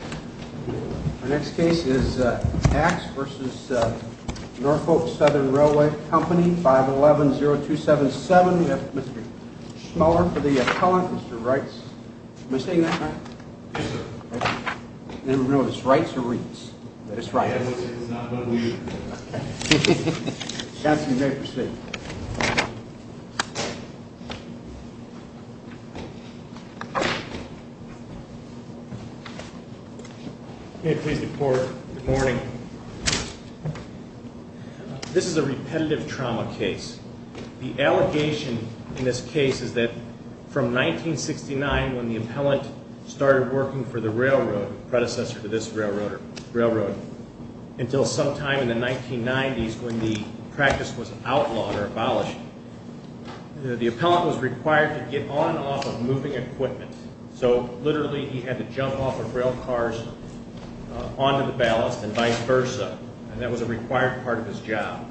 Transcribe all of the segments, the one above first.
Our next case is Axe v. Norfolk Southern Railway Company, 511-0277. We have Mr. Schmeller for the appellant, Mr. Reitz. Am I saying that right? Yes, sir. Thank you. I didn't realize it's Reitz or Reitz, but it's Reitz. It's not, but we... Okay. Chancellor, you may proceed. May I please report? Good morning. This is a repetitive trauma case. The allegation in this case is that from 1969, when the appellant started working for the railroad, predecessor to this railroad, until sometime in the 1990s when the practice was outlawed or abolished, the appellant was required to get on and off of moving equipment. So literally, he had to jump off of rail cars onto the ballast and vice versa, and that was a required part of his job.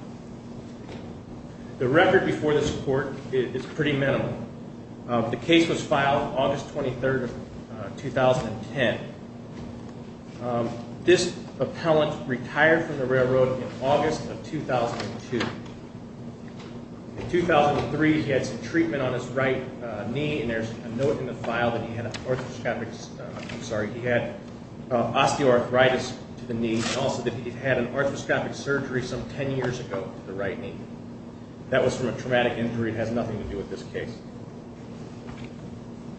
The record before this court is pretty minimal. The case was filed August 23, 2010. This appellant retired from the railroad in August of 2002. In 2003, he had some treatment on his right knee, and there's a note in the file that he had osteoarthritis to the knee and also that he had an arthroscopic surgery some ten years ago to the right knee. That was from a traumatic injury. It has nothing to do with this case.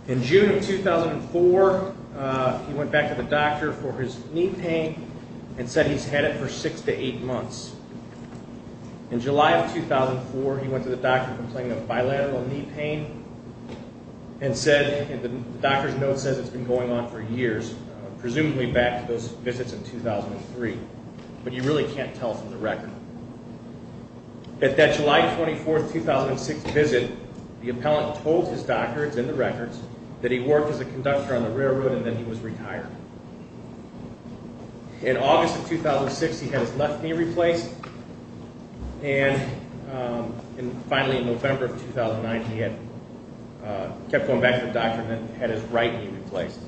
In June of 2004, he went back to the doctor for his knee pain and said he's had it for six to eight months. In July of 2004, he went to the doctor complaining of bilateral knee pain and the doctor's note says it's been going on for years, presumably back to those visits in 2003, but you really can't tell from the record. At that July 24, 2006 visit, the appellant told his doctor, it's in the records, that he worked as a conductor on the railroad and that he was retired. In August of 2006, he had his left knee replaced, and finally in November of 2009, he kept going back to the doctor and then had his right knee replaced.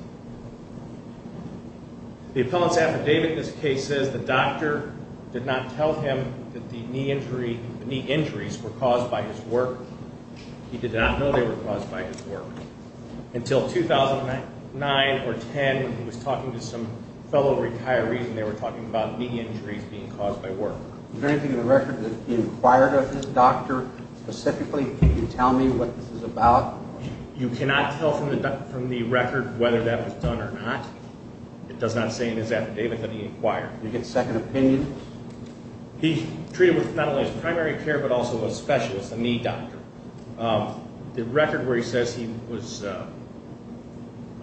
The appellant's affidavit in this case says the doctor did not tell him that the knee injuries were caused by his work. He did not know they were caused by his work. Until 2009 or 10, when he was talking to some fellow retirees and they were talking about knee injuries being caused by work. Is there anything in the record that he inquired of his doctor? Specifically, can you tell me what this is about? You cannot tell from the record whether that was done or not. It does not say in his affidavit that he inquired. Did he get second opinion? He's treated with not only his primary care but also a specialist, a knee doctor. The record where he says he was a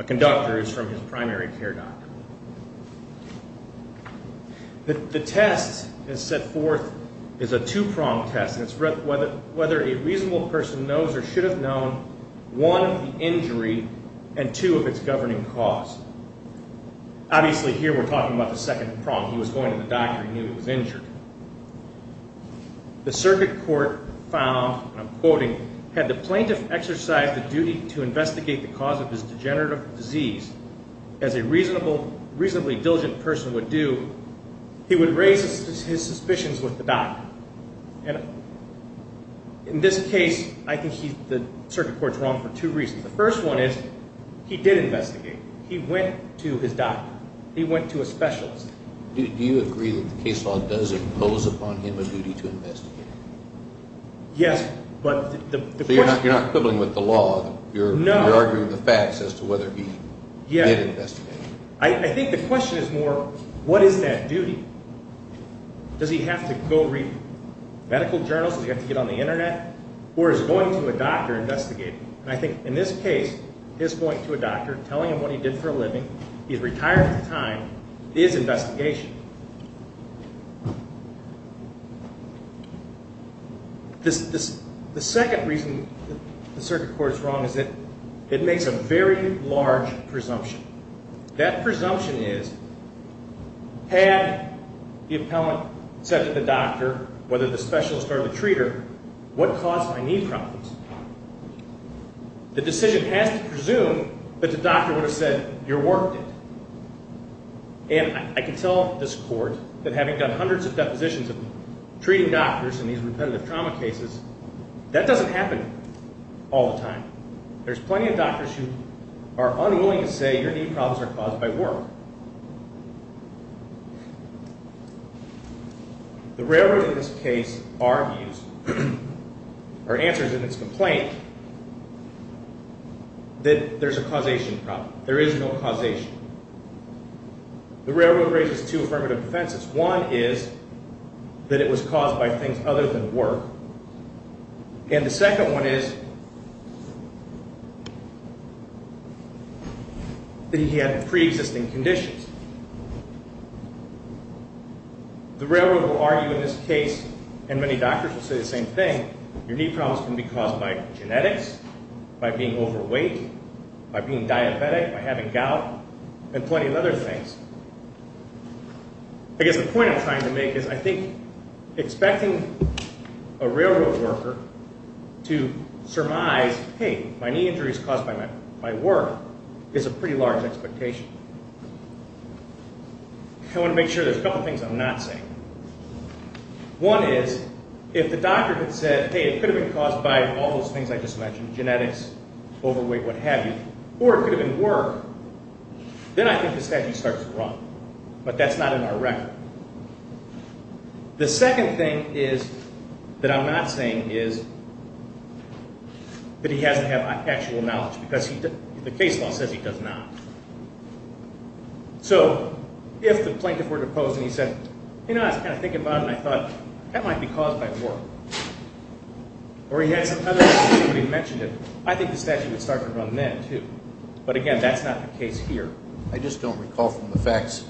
conductor is from his primary care doctor. The test that's set forth is a two-pronged test, and it's whether a reasonable person knows or should have known one, the injury, and two, of its governing cause. Obviously, here we're talking about the second prong. He was going to the doctor. He knew he was injured. The circuit court found, and I'm quoting, had the plaintiff exercised the duty to investigate the cause of his degenerative disease as a reasonably diligent person would do, he would raise his suspicions with the doctor. In this case, I think the circuit court's wrong for two reasons. The first one is he did investigate. He went to his doctor. He went to a specialist. Do you agree that the case law does impose upon him a duty to investigate? Yes, but the question... So you're not quibbling with the law? No. You're arguing the facts as to whether he did investigate. I think the question is more, what is that duty? Does he have to go read medical journals? Does he have to get on the Internet? Or is going to a doctor investigating? And I think in this case, his going to a doctor, telling him what he did for a living, he's retired at the time, is investigation. The second reason the circuit court is wrong is that it makes a very large presumption. That presumption is, had the appellant said to the doctor, whether the specialist or the treater, what caused my knee problems? The decision has to presume that the doctor would have said, your work did. And I can tell this court that having done hundreds of depositions of treating doctors in these repetitive trauma cases, that doesn't happen all the time. There's plenty of doctors who are unwilling to say your knee problems are caused by work. The railroad, in this case, argues, or answers in its complaint, that there's a causation problem. There is no causation. The railroad raises two affirmative defenses. One is that it was caused by things other than work. And the second one is that he had a pre-existing condition. The railroad will argue in this case, and many doctors will say the same thing, your knee problems can be caused by genetics, by being overweight, by being diabetic, by having gout, and plenty of other things. I guess the point I'm trying to make is, I think, expecting a railroad worker to surmise, hey, my knee injury is caused by work, is a pretty large expectation. I want to make sure there's a couple things I'm not saying. One is, if the doctor had said, hey, it could have been caused by all those things I just mentioned, genetics, overweight, what have you, or it could have been work, then I think the statute starts to run. But that's not in our record. The second thing that I'm not saying is that he has to have actual knowledge, because the case law says he does not. So if the plaintiff were deposed and he said, you know, I was kind of thinking about it, and I thought, that might be caused by work, or he had some other condition, but he mentioned it, I think the statute would start to run then, too. But again, that's not the case here. I just don't recall from the facts.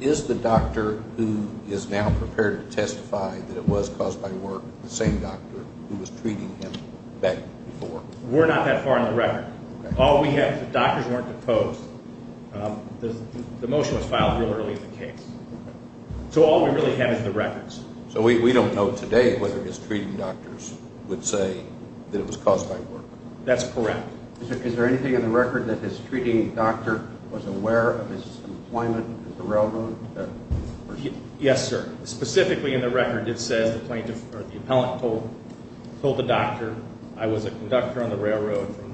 Is the doctor who is now prepared to testify that it was caused by work the same doctor who was treating him back before? We're not that far in the record. All we have is the doctors weren't deposed. The motion was filed real early in the case. So all we really have is the records. So we don't know today whether his treating doctors would say that it was caused by work. That's correct. Is there anything in the record that his treating doctor was aware of his employment at the railroad? Yes, sir. Specifically in the record it says the plaintiff or the appellant told the doctor, I was a conductor on the railroad from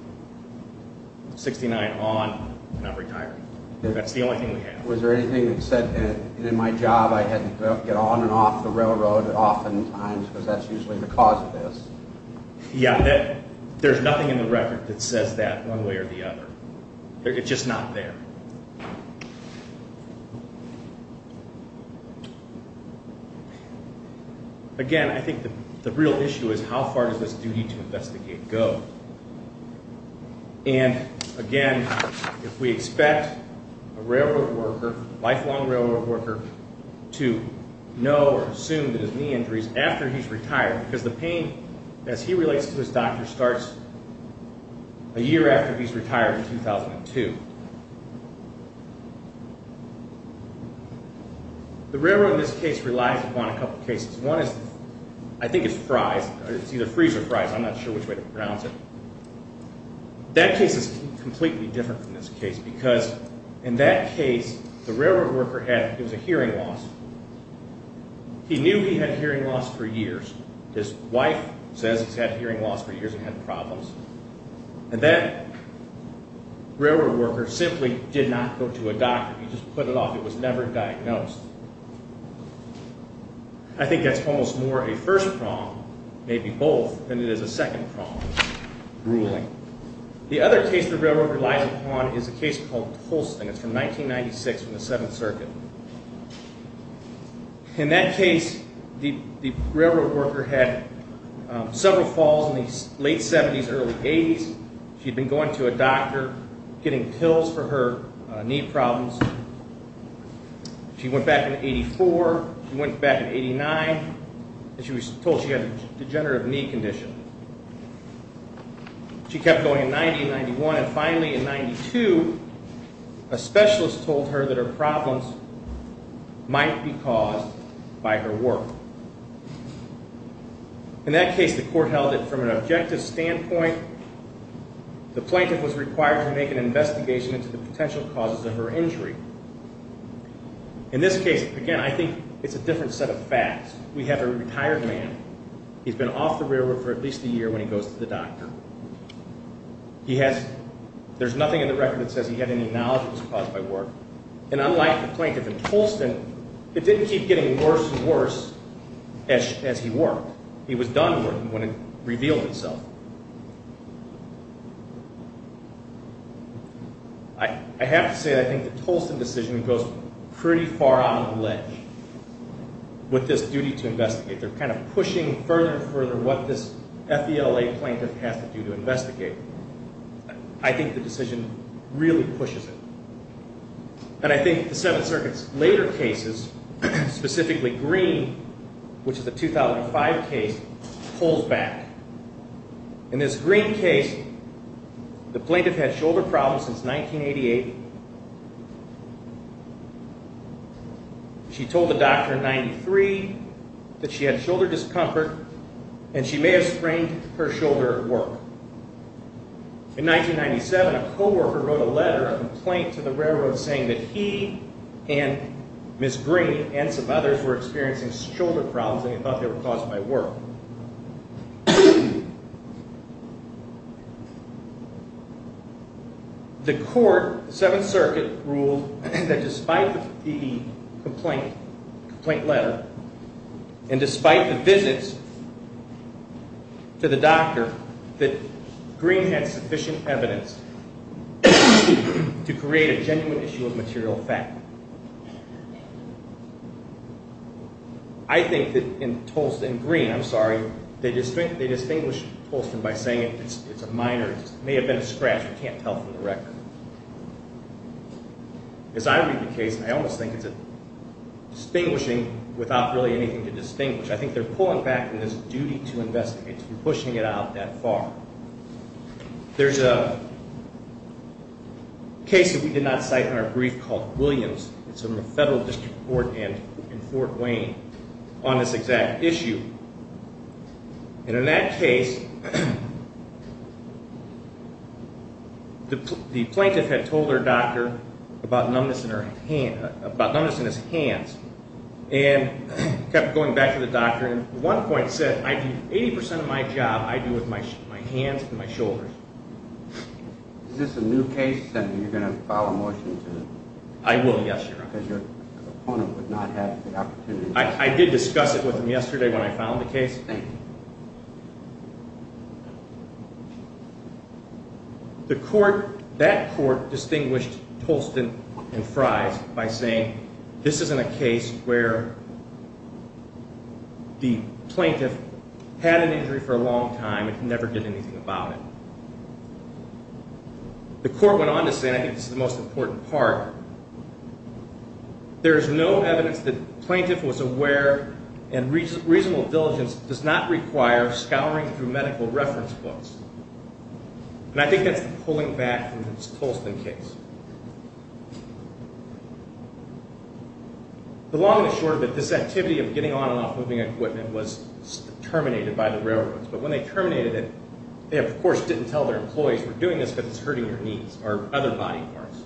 1969 on, and I'm retired. That's the only thing we have. Was there anything that said in my job I had to get on and off the railroad often times because that's usually the cause of this? Yeah, there's nothing in the record that says that one way or the other. It's just not there. Again, I think the real issue is how far does this duty to investigate go? And, again, if we expect a railroad worker, lifelong railroad worker, to know or assume that his knee injury is after he's retired because the pain, as he relates to his doctor, starts a year after he's retired in 2002. The railroad in this case relies upon a couple of cases. One is I think it's Fry's. It's either Fry's or Fry's. I'm not sure which way to pronounce it. That case is completely different from this case because in that case, the railroad worker had a hearing loss. He knew he had hearing loss for years. His wife says he's had hearing loss for years and had problems. And that railroad worker simply did not go to a doctor. He just put it off. It was never diagnosed. I think that's almost more a first prong, maybe both, than it is a second prong, ruling. The other case the railroad relies upon is a case called Tolsten. It's from 1996 in the Seventh Circuit. In that case, the railroad worker had several falls in the late 70s, early 80s. She'd been going to a doctor, getting pills for her knee problems. She went back in 1984. She went back in 1989, and she was told she had a degenerative knee condition. She kept going in 1990 and 1991, and finally in 1992, a specialist told her that her problems might be caused by her work. In that case, the court held that from an objective standpoint, the plaintiff was required to make an investigation into the potential causes of her injury. In this case, again, I think it's a different set of facts. We have a retired man. He's been off the railroad for at least a year when he goes to the doctor. There's nothing in the record that says he had any knowledge it was caused by work. And unlike the plaintiff in Tolsten, it didn't keep getting worse and worse as he worked. He was done working when it revealed itself. I have to say, I think the Tolsten decision goes pretty far out of the ledge with this duty to investigate. They're kind of pushing further and further what this FELA plaintiff has to do to investigate. I think the decision really pushes it. And I think the Seventh Circuit's later cases, specifically Green, which is a 2005 case, pulls back. In this Green case, the plaintiff had shoulder problems since 1988. She told the doctor in 1993 that she had shoulder discomfort and she may have sprained her shoulder at work. In 1997, a coworker wrote a letter of complaint to the railroad saying that he and Ms. Green and some others were experiencing shoulder problems and they thought they were caused by work. The court, the Seventh Circuit, ruled that despite the complaint letter and despite the visits to the doctor, that Green had sufficient evidence to create a genuine issue of material fact. I think that in Tolsten, Green, I'm sorry, they distinguish Tolsten by saying it's a minor, it may have been a scratch, we can't tell from the record. As I read the case, I almost think it's a distinguishing without really anything to distinguish. I think they're pulling back from this duty to investigate, to be pushing it out that far. There's a case that we did not cite in our brief called Williams. It's from the Federal District Court in Fort Wayne on this exact issue. In that case, the plaintiff had told her doctor about numbness in his hands and kept going back to the doctor. The doctor at one point said, 80% of my job I do with my hands and my shoulders. Is this a new case and you're going to file a motion? I will, yes, Your Honor. Because your opponent would not have the opportunity. I did discuss it with him yesterday when I filed the case. Thank you. That court distinguished Tolsten and Fries by saying this isn't a case where the plaintiff had an injury for a long time and never did anything about it. The court went on to say, and I think this is the most important part, There is no evidence that the plaintiff was aware and reasonable diligence does not require scouring through medical reference books. And I think that's the pulling back from this Tolsten case. The long and the short of it, this activity of getting on and off moving equipment was terminated by the railroads. But when they terminated it, they of course didn't tell their employees we're doing this because it's hurting your knees or other body parts.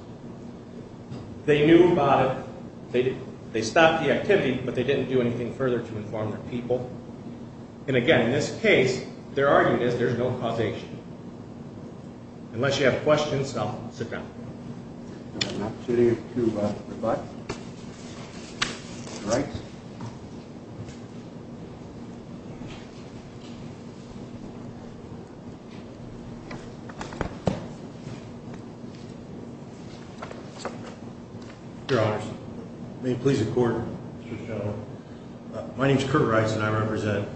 They knew about it. They stopped the activity, but they didn't do anything further to inform their people. And again, in this case, their argument is there's no causation. Unless you have questions, I'll sit down. I have an opportunity to provide. All right. Your Honor, may it please the court, Mr. General. My name is Curt Rice and I represent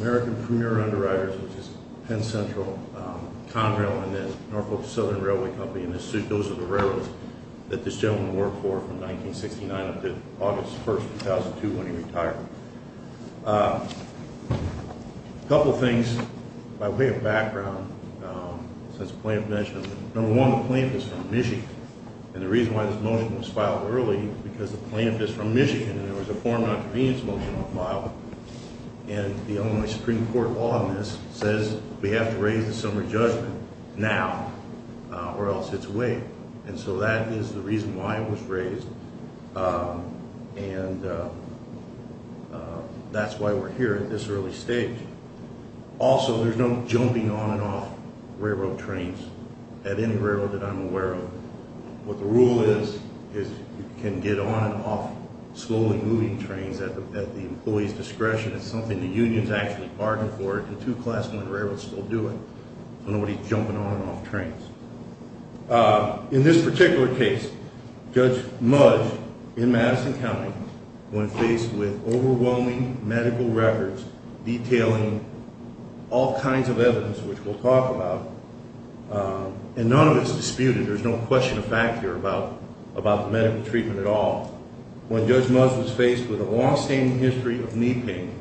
American Premier Underwriters, which is Penn Central, Conrail, and the Norfolk Southern Railway Company. And those are the railroads that this gentleman worked for from 1969 up to August 1st, 2002 when he retired. A couple of things by way of background since the plaintiff mentioned it. Number one, the plaintiff is from Michigan. And the reason why this motion was filed early is because the plaintiff is from Michigan and there was a foreign non-convenience motion on file. And the Illinois Supreme Court law on this says we have to raise the summary judgment now or else it's waived. And so that is the reason why it was raised. And that's why we're here at this early stage. Also, there's no jumping on and off railroad trains at any railroad that I'm aware of. What the rule is, is you can get on and off slowly moving trains at the employee's discretion. It's something the union's actually bargained for. The two class one railroads still do it. So nobody's jumping on and off trains. In this particular case, Judge Muzz in Madison County went faced with overwhelming medical records detailing all kinds of evidence, which we'll talk about. And none of it's disputed. There's no question of fact here about the medical treatment at all. When Judge Muzz was faced with a longstanding history of knee pain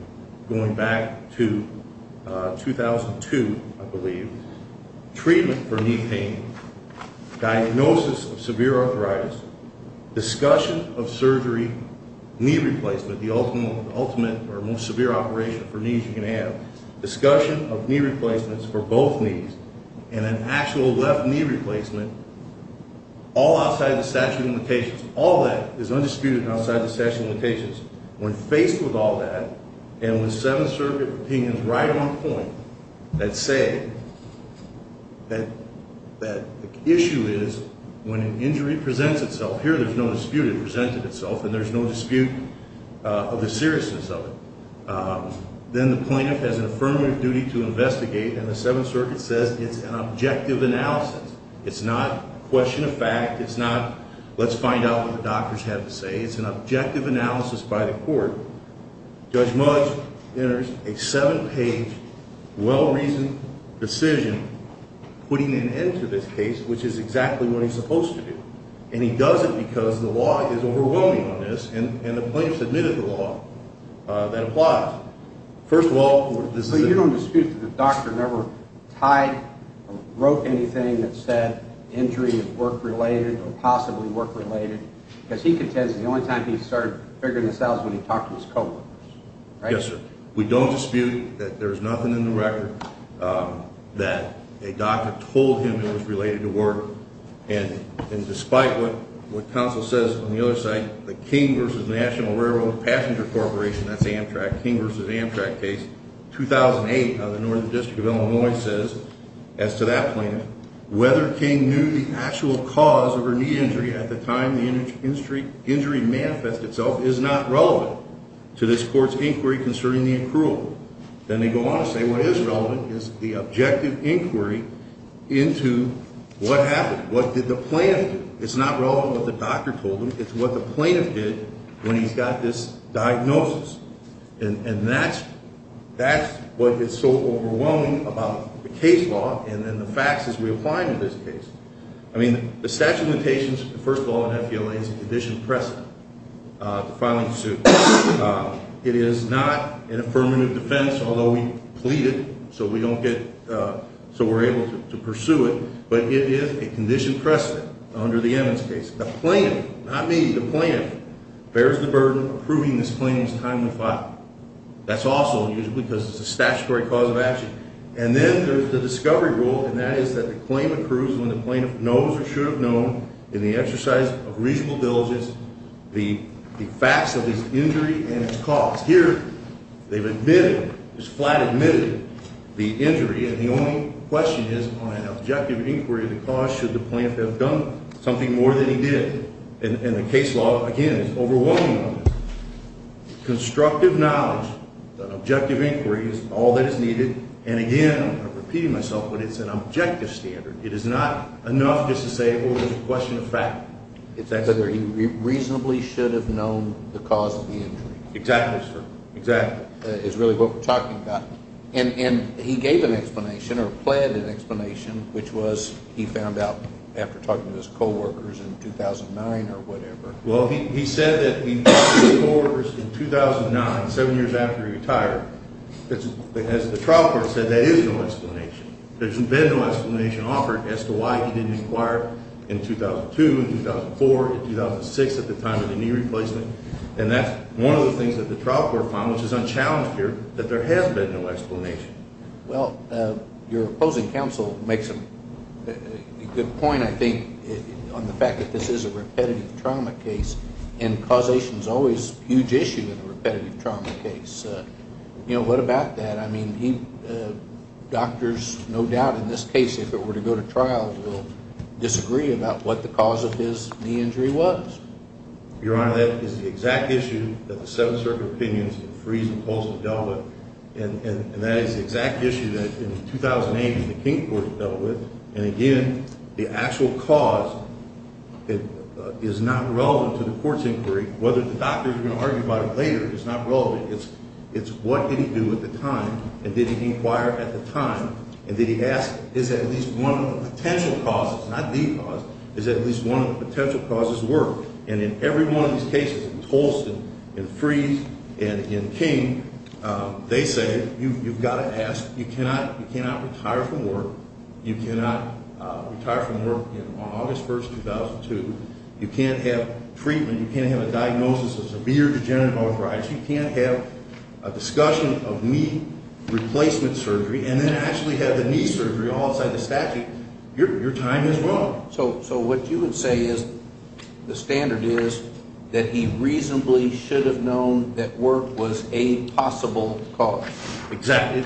going back to 2002, I believe, treatment for knee pain, diagnosis of severe arthritis, discussion of surgery, knee replacement, the ultimate or most severe operation for knees you can have, discussion of knee replacements for both knees, and an actual left knee replacement, all outside the statute of limitations. All that is undisputed and outside the statute of limitations. When faced with all that, and with Seventh Circuit opinions right on point that say that the issue is when an injury presents itself, here there's no dispute, it presented itself, and there's no dispute of the seriousness of it. Then the plaintiff has an affirmative duty to investigate, and the Seventh Circuit says it's an objective analysis. It's not question of fact. It's not let's find out what the doctors have to say. It's an objective analysis by the court. Judge Muzz enters a seven-page, well-reasoned decision putting an end to this case, which is exactly what he's supposed to do. And he does it because the law is overwhelming on this, and the plaintiff submitted the law that applies. First of all, this is... So you don't dispute that the doctor never tied or broke anything that said injury is work-related or possibly work-related? Because he contends the only time he started figuring this out was when he talked to his co-workers, right? Yes, sir. We don't dispute that there's nothing in the record that a doctor told him it was related to work. And despite what counsel says on the other side, the King v. National Railroad Passenger Corporation, that's the Amtrak, King v. Amtrak case, 2008 on the Northern District of Illinois says, as to that plaintiff, whether King knew the actual cause of her knee injury at the time the injury manifested itself is not relevant to this court's inquiry concerning the accrual. Then they go on to say what is relevant is the objective inquiry into what happened. What did the plaintiff do? It's not relevant what the doctor told him. It's what the plaintiff did when he got this diagnosis. And that's what is so overwhelming about the case law and then the facts as we apply to this case. I mean, the statute of limitations, first of all, in FELA is a condition precedent to filing a suit. It is not an affirmative defense, although we plead it so we're able to pursue it. But it is a condition precedent under the Emmons case. The plaintiff, not me, the plaintiff, bears the burden of approving this plaintiff's time to file. That's also unusual because it's a statutory cause of action. And then there's the discovery rule, and that is that the claim approves when the plaintiff knows or should have known in the exercise of reasonable diligence the facts of his injury and its cause. Here they've admitted, just flat admitted the injury, and the only question is on an objective inquiry of the cause should the plaintiff have done something more than he did. And the case law, again, is overwhelming on this. Constructive knowledge, an objective inquiry is all that is needed. And again, I'm repeating myself, but it's an objective standard. It is not enough just to say, oh, it's a question of fact. It's whether he reasonably should have known the cause of the injury. Exactly, sir, exactly. That is really what we're talking about. And he gave an explanation or pled an explanation, which was he found out after talking to his coworkers in 2009 or whatever. Well, he said that he talked to his coworkers in 2009, seven years after he retired. As the trial court said, that is no explanation. There's been no explanation offered as to why he didn't inquire in 2002, in 2004, in 2006 at the time of the knee replacement. And that's one of the things that the trial court found, which is unchallenged here, that there has been no explanation. Well, your opposing counsel makes a good point, I think, on the fact that this is a repetitive trauma case, and causation is always a huge issue in a repetitive trauma case. You know, what about that? I mean, doctors, no doubt in this case, if it were to go to trial, will disagree about what the cause of his knee injury was. Your Honor, that is the exact issue that the Seventh Circuit Opinions and Freeze and Pulse have dealt with, and that is the exact issue that in 2008 the King Court dealt with. And again, the actual cause is not relevant to the court's inquiry. Whether the doctor is going to argue about it later is not relevant. It's what did he do at the time, and did he inquire at the time, and did he ask, is at least one of the potential causes, not the cause, is at least one of the potential causes work? And in every one of these cases, in Tolston, in Freeze, and in King, they say you've got to ask. You cannot retire from work. You cannot retire from work on August 1, 2002. You can't have treatment. You can't have a diagnosis of severe degenerative arthritis. You can't have a discussion of knee replacement surgery and then actually have the knee surgery all outside the statute. Your time is wrong. So what you would say is the standard is that he reasonably should have known that work was a possible cause. Exactly.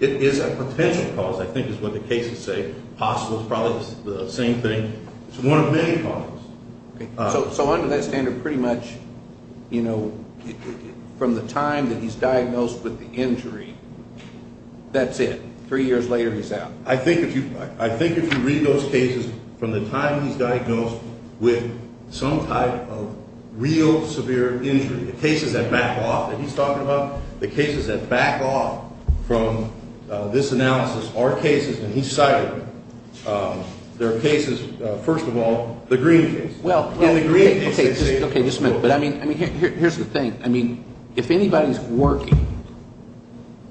It is a potential cause, I think, is what the cases say. Possible is probably the same thing. It's one of many causes. So under that standard, pretty much, you know, from the time that he's diagnosed with the injury, that's it. Three years later, he's out. I think if you read those cases from the time he's diagnosed with some type of real severe injury, the cases that back off that he's talking about, the cases that back off from this analysis are cases that he cited. There are cases, first of all, the green case. Okay, just a minute. But, I mean, here's the thing. I mean, if anybody's working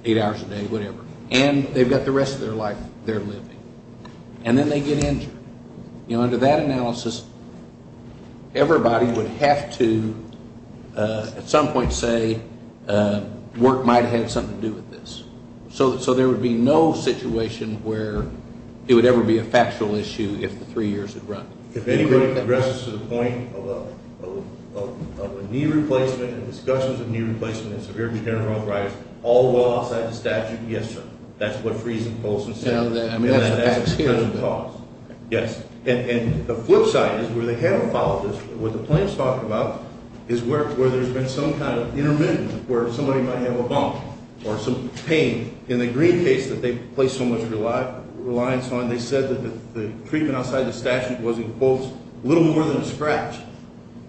eight hours a day, whatever, and they've got the rest of their life they're living, and then they get injured, you know, under that analysis, everybody would have to at some point say work might have had something to do with this. So there would be no situation where it would ever be a factual issue if the three years had run. If anybody addresses to the point of a knee replacement and discussions of knee replacement and severe general arthritis, all while outside the statute, yes, sir. That's what Fries and Polson said. I mean, that's the facts here. Yes. And the flip side is where they haven't followed this. What the plaintiffs talked about is where there's been some kind of intermittent, where somebody might have a bump or some pain. In the green case that they placed so much reliance on, they said that the treatment outside the statute was, in quotes, a little more than a scratch.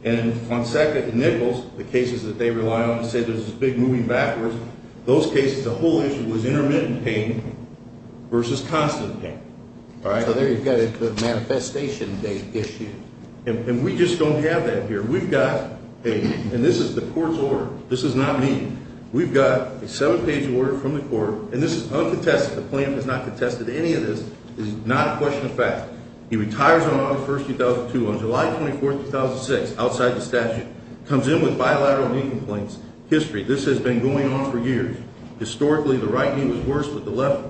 And on Sackett and Nichols, the cases that they rely on and say there's this big moving backwards, those cases, the whole issue was intermittent pain versus constant pain. So there you've got it, the manifestation issue. And we just don't have that here. We've got a – and this is the court's order. This is not me. We've got a seven-page order from the court, and this is uncontested. The plaintiff has not contested any of this. This is not a question of fact. He retires on August 1st, 2002. On July 24th, 2006, outside the statute, comes in with bilateral knee complaints. History. This has been going on for years. Historically, the right knee was worse than the left.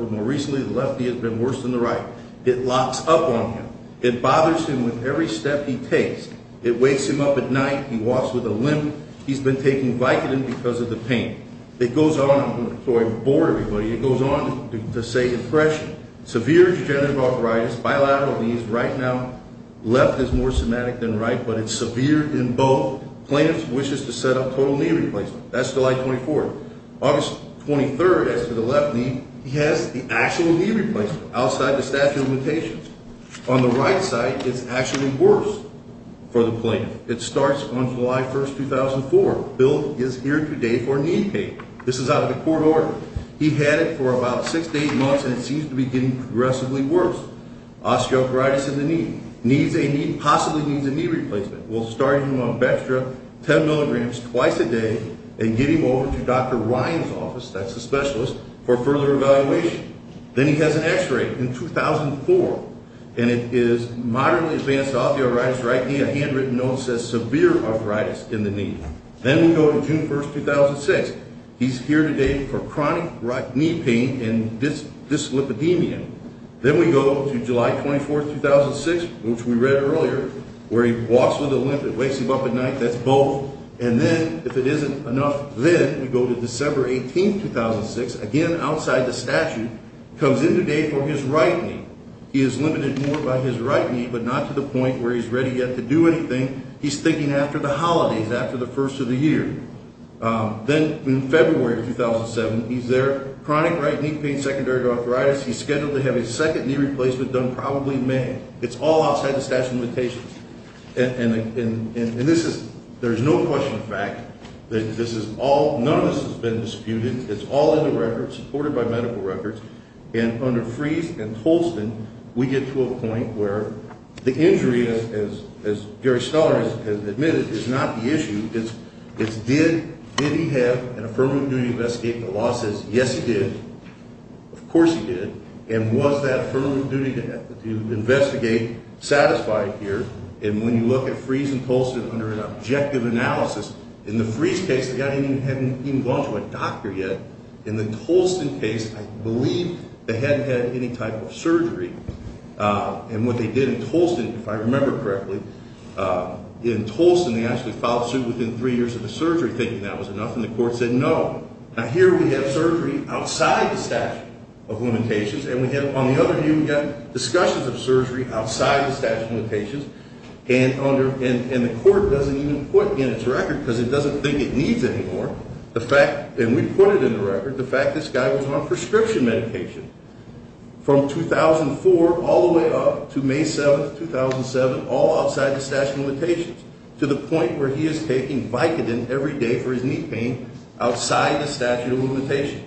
More recently, the left knee has been worse than the right. It locks up on him. It bothers him with every step he takes. It wakes him up at night. He walks with a limp. He's been taking Vicodin because of the pain. It goes on. I'm sorry, I'm bored, everybody. It goes on to say impression, severe degenerative arthritis, bilateral knees. Right now, left is more somatic than right, but it's severe in both. Plaintiff wishes to set up total knee replacement. That's July 24th. August 23rd, as for the left knee, he has the actual knee replacement outside the statute of limitations. On the right side, it's actually worse for the plaintiff. It starts on July 1st, 2004. Bill is here today for a knee pain. This is out of the court order. He had it for about six to eight months, and it seems to be getting progressively worse. Osteoarthritis in the knee. Needs a knee, possibly needs a knee replacement. We'll start him on Bextra 10 milligrams twice a day and give him over to Dr. Ryan's office, that's the specialist, for further evaluation. Then he has an x-ray in 2004, and it is moderately advanced osteoarthritis right knee. A handwritten note says severe arthritis in the knee. Then we go to June 1st, 2006. He's here today for chronic knee pain and dyslipidemia. Then we go to July 24th, 2006, which we read earlier, where he walks with a limp. It wakes him up at night. That's both. And then, if it isn't enough, then we go to December 18th, 2006. Again, outside the statute. Comes in today for his right knee. He is limited more by his right knee, but not to the point where he's ready yet to do anything. He's thinking after the holidays, after the first of the year. Then in February of 2007, he's there. Chronic right knee pain, secondary arthritis. He's scheduled to have a second knee replacement done probably May. It's all outside the statute of limitations. And this is – there's no question of fact that this is all – none of this has been disputed. It's all in the records, supported by medical records. And under Freeze and Tolston, we get to a point where the injury, as Gary Scholar has admitted, is not the issue. It's did he have an affirmative duty to investigate? The law says yes, he did. Of course he did. And was that affirmative duty to investigate satisfied here? And when you look at Freeze and Tolston under an objective analysis, in the Freeze case, the guy hadn't even gone to a doctor yet. In the Tolston case, I believe they hadn't had any type of surgery. And what they did in Tolston, if I remember correctly, in Tolston, they actually filed suit within three years of the surgery, thinking that was enough. And the court said no. Now, here we have surgery outside the statute of limitations. And we have – on the other hand, we've got discussions of surgery outside the statute of limitations. And under – and the court doesn't even put in its record, because it doesn't think it needs anymore, the fact – and we put it in the record – the fact this guy was on prescription medication from 2004 all the way up to May 7, 2007, all outside the statute of limitations, to the point where he is taking Vicodin every day for his knee pain outside the statute of limitations.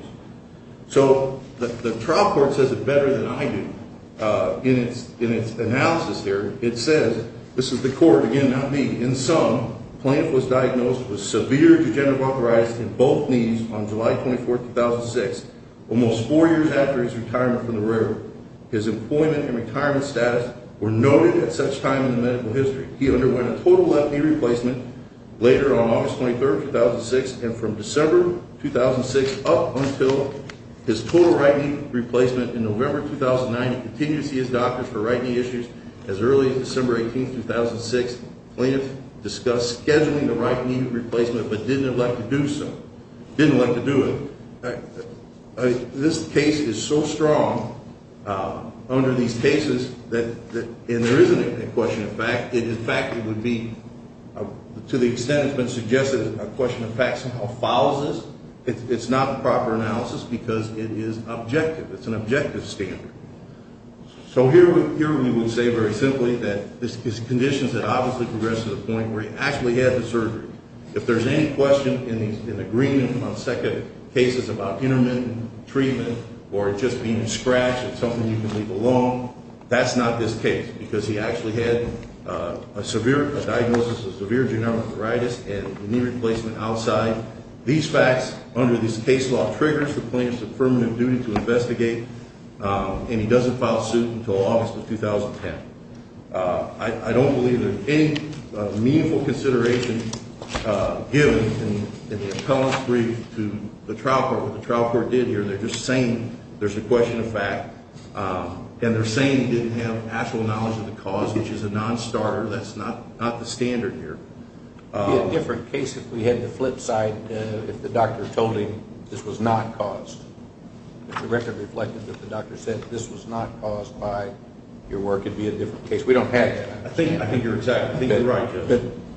So the trial court says it better than I do. In its analysis here, it says – this is the court, again, not me – in sum, the plaintiff was diagnosed with severe degenerative arthritis in both knees on July 24, 2006, almost four years after his retirement from the railroad. His employment and retirement status were noted at such time in the medical history. He underwent a total left knee replacement later on August 23, 2006, and from December 2006 up until his total right knee replacement in November 2009. He continued to see his doctors for right knee issues as early as December 18, 2006. The plaintiff discussed scheduling the right knee replacement but didn't elect to do so – didn't elect to do it. This case is so strong under these cases that – and there isn't a question of fact. In fact, it would be – to the extent it's been suggested, a question of fact somehow follows this. It's not a proper analysis because it is objective. It's an objective standard. So here we would say very simply that his conditions had obviously progressed to the point where he actually had the surgery. If there's any question in the agreement on second cases about intermittent treatment or just being a scratch or something you can leave alone, that's not this case because he actually had a severe – a diagnosis of severe degenerative arthritis and a knee replacement outside. These facts under this case law triggers the plaintiff's affirmative duty to investigate, and he doesn't file suit until August of 2010. I don't believe there's any meaningful consideration given in the appellant's brief to the trial court what the trial court did here. They're just saying there's a question of fact, and they're saying he didn't have actual knowledge of the cause, which is a non-starter. That's not the standard here. It would be a different case if we had the flip side if the doctor told him this was not caused. If the record reflected that the doctor said this was not caused by your work, it would be a different case. We don't have that. I think you're exactly right.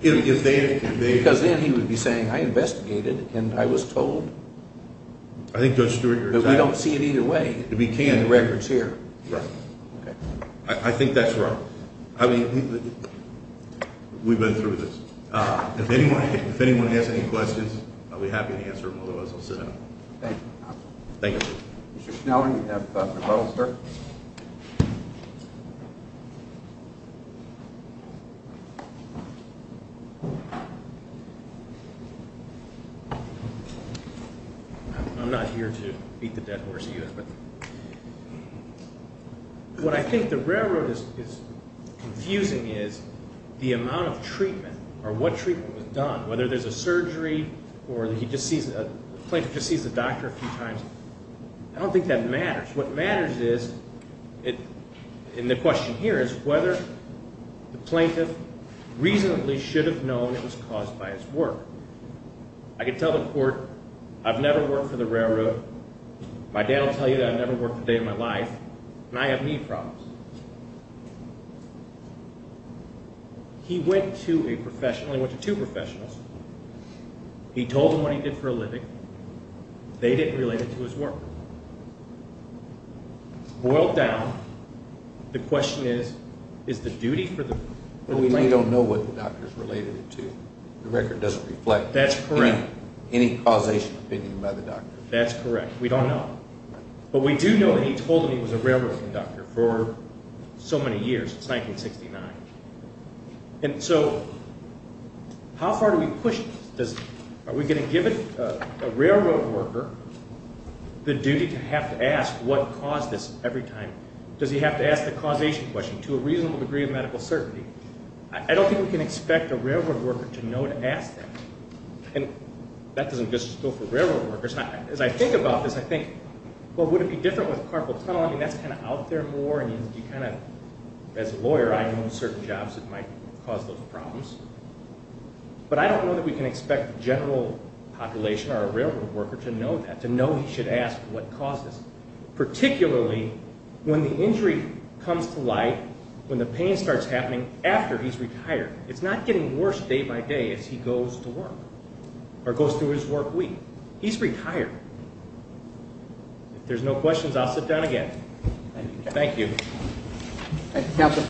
Because then he would be saying I investigated and I was told. I think Judge Stewart, you're exactly right. But we don't see it either way in the records here. Right. Okay. I think that's right. I mean, we've been through this. If anyone has any questions, I'll be happy to answer them, otherwise I'll sit down. Thank you, counsel. Thank you. Mr. Schneller, you have the model, sir. I'm not here to beat the dead horse, but what I think the railroad is confusing is the amount of treatment or what treatment was done, whether there's a surgery or the plaintiff just sees the doctor a few times. I don't think that matters. What matters is, and the question here is whether the plaintiff reasonably should have known it was caused by his work. I can tell the court I've never worked for the railroad. My dad will tell you that I've never worked a day of my life, and I have knee problems. He went to a professional. He went to two professionals. He told them what he did for a living. They didn't relate it to his work. Boiled down, the question is, is the duty for the plaintiff? But we don't know what the doctor's related it to. The record doesn't reflect any causation opinion by the doctor. That's correct. We don't know. But we do know that he told them he was a railroad conductor for so many years, since 1969. And so how far do we push this? Are we going to give a railroad worker the duty to have to ask what caused this every time? Does he have to ask the causation question to a reasonable degree of medical certainty? I don't think we can expect a railroad worker to know to ask that. And that doesn't just go for railroad workers. As I think about this, I think, well, would it be different with carpal tunnel? I mean, that's kind of out there more, and you kind of, as a lawyer, I know certain jobs that might cause those problems. But I don't know that we can expect the general population or a railroad worker to know that, to know he should ask what caused this, particularly when the injury comes to light, when the pain starts happening after he's retired. It's not getting worse day by day as he goes to work or goes through his work week. He's retired. If there's no questions, I'll sit down again. Thank you.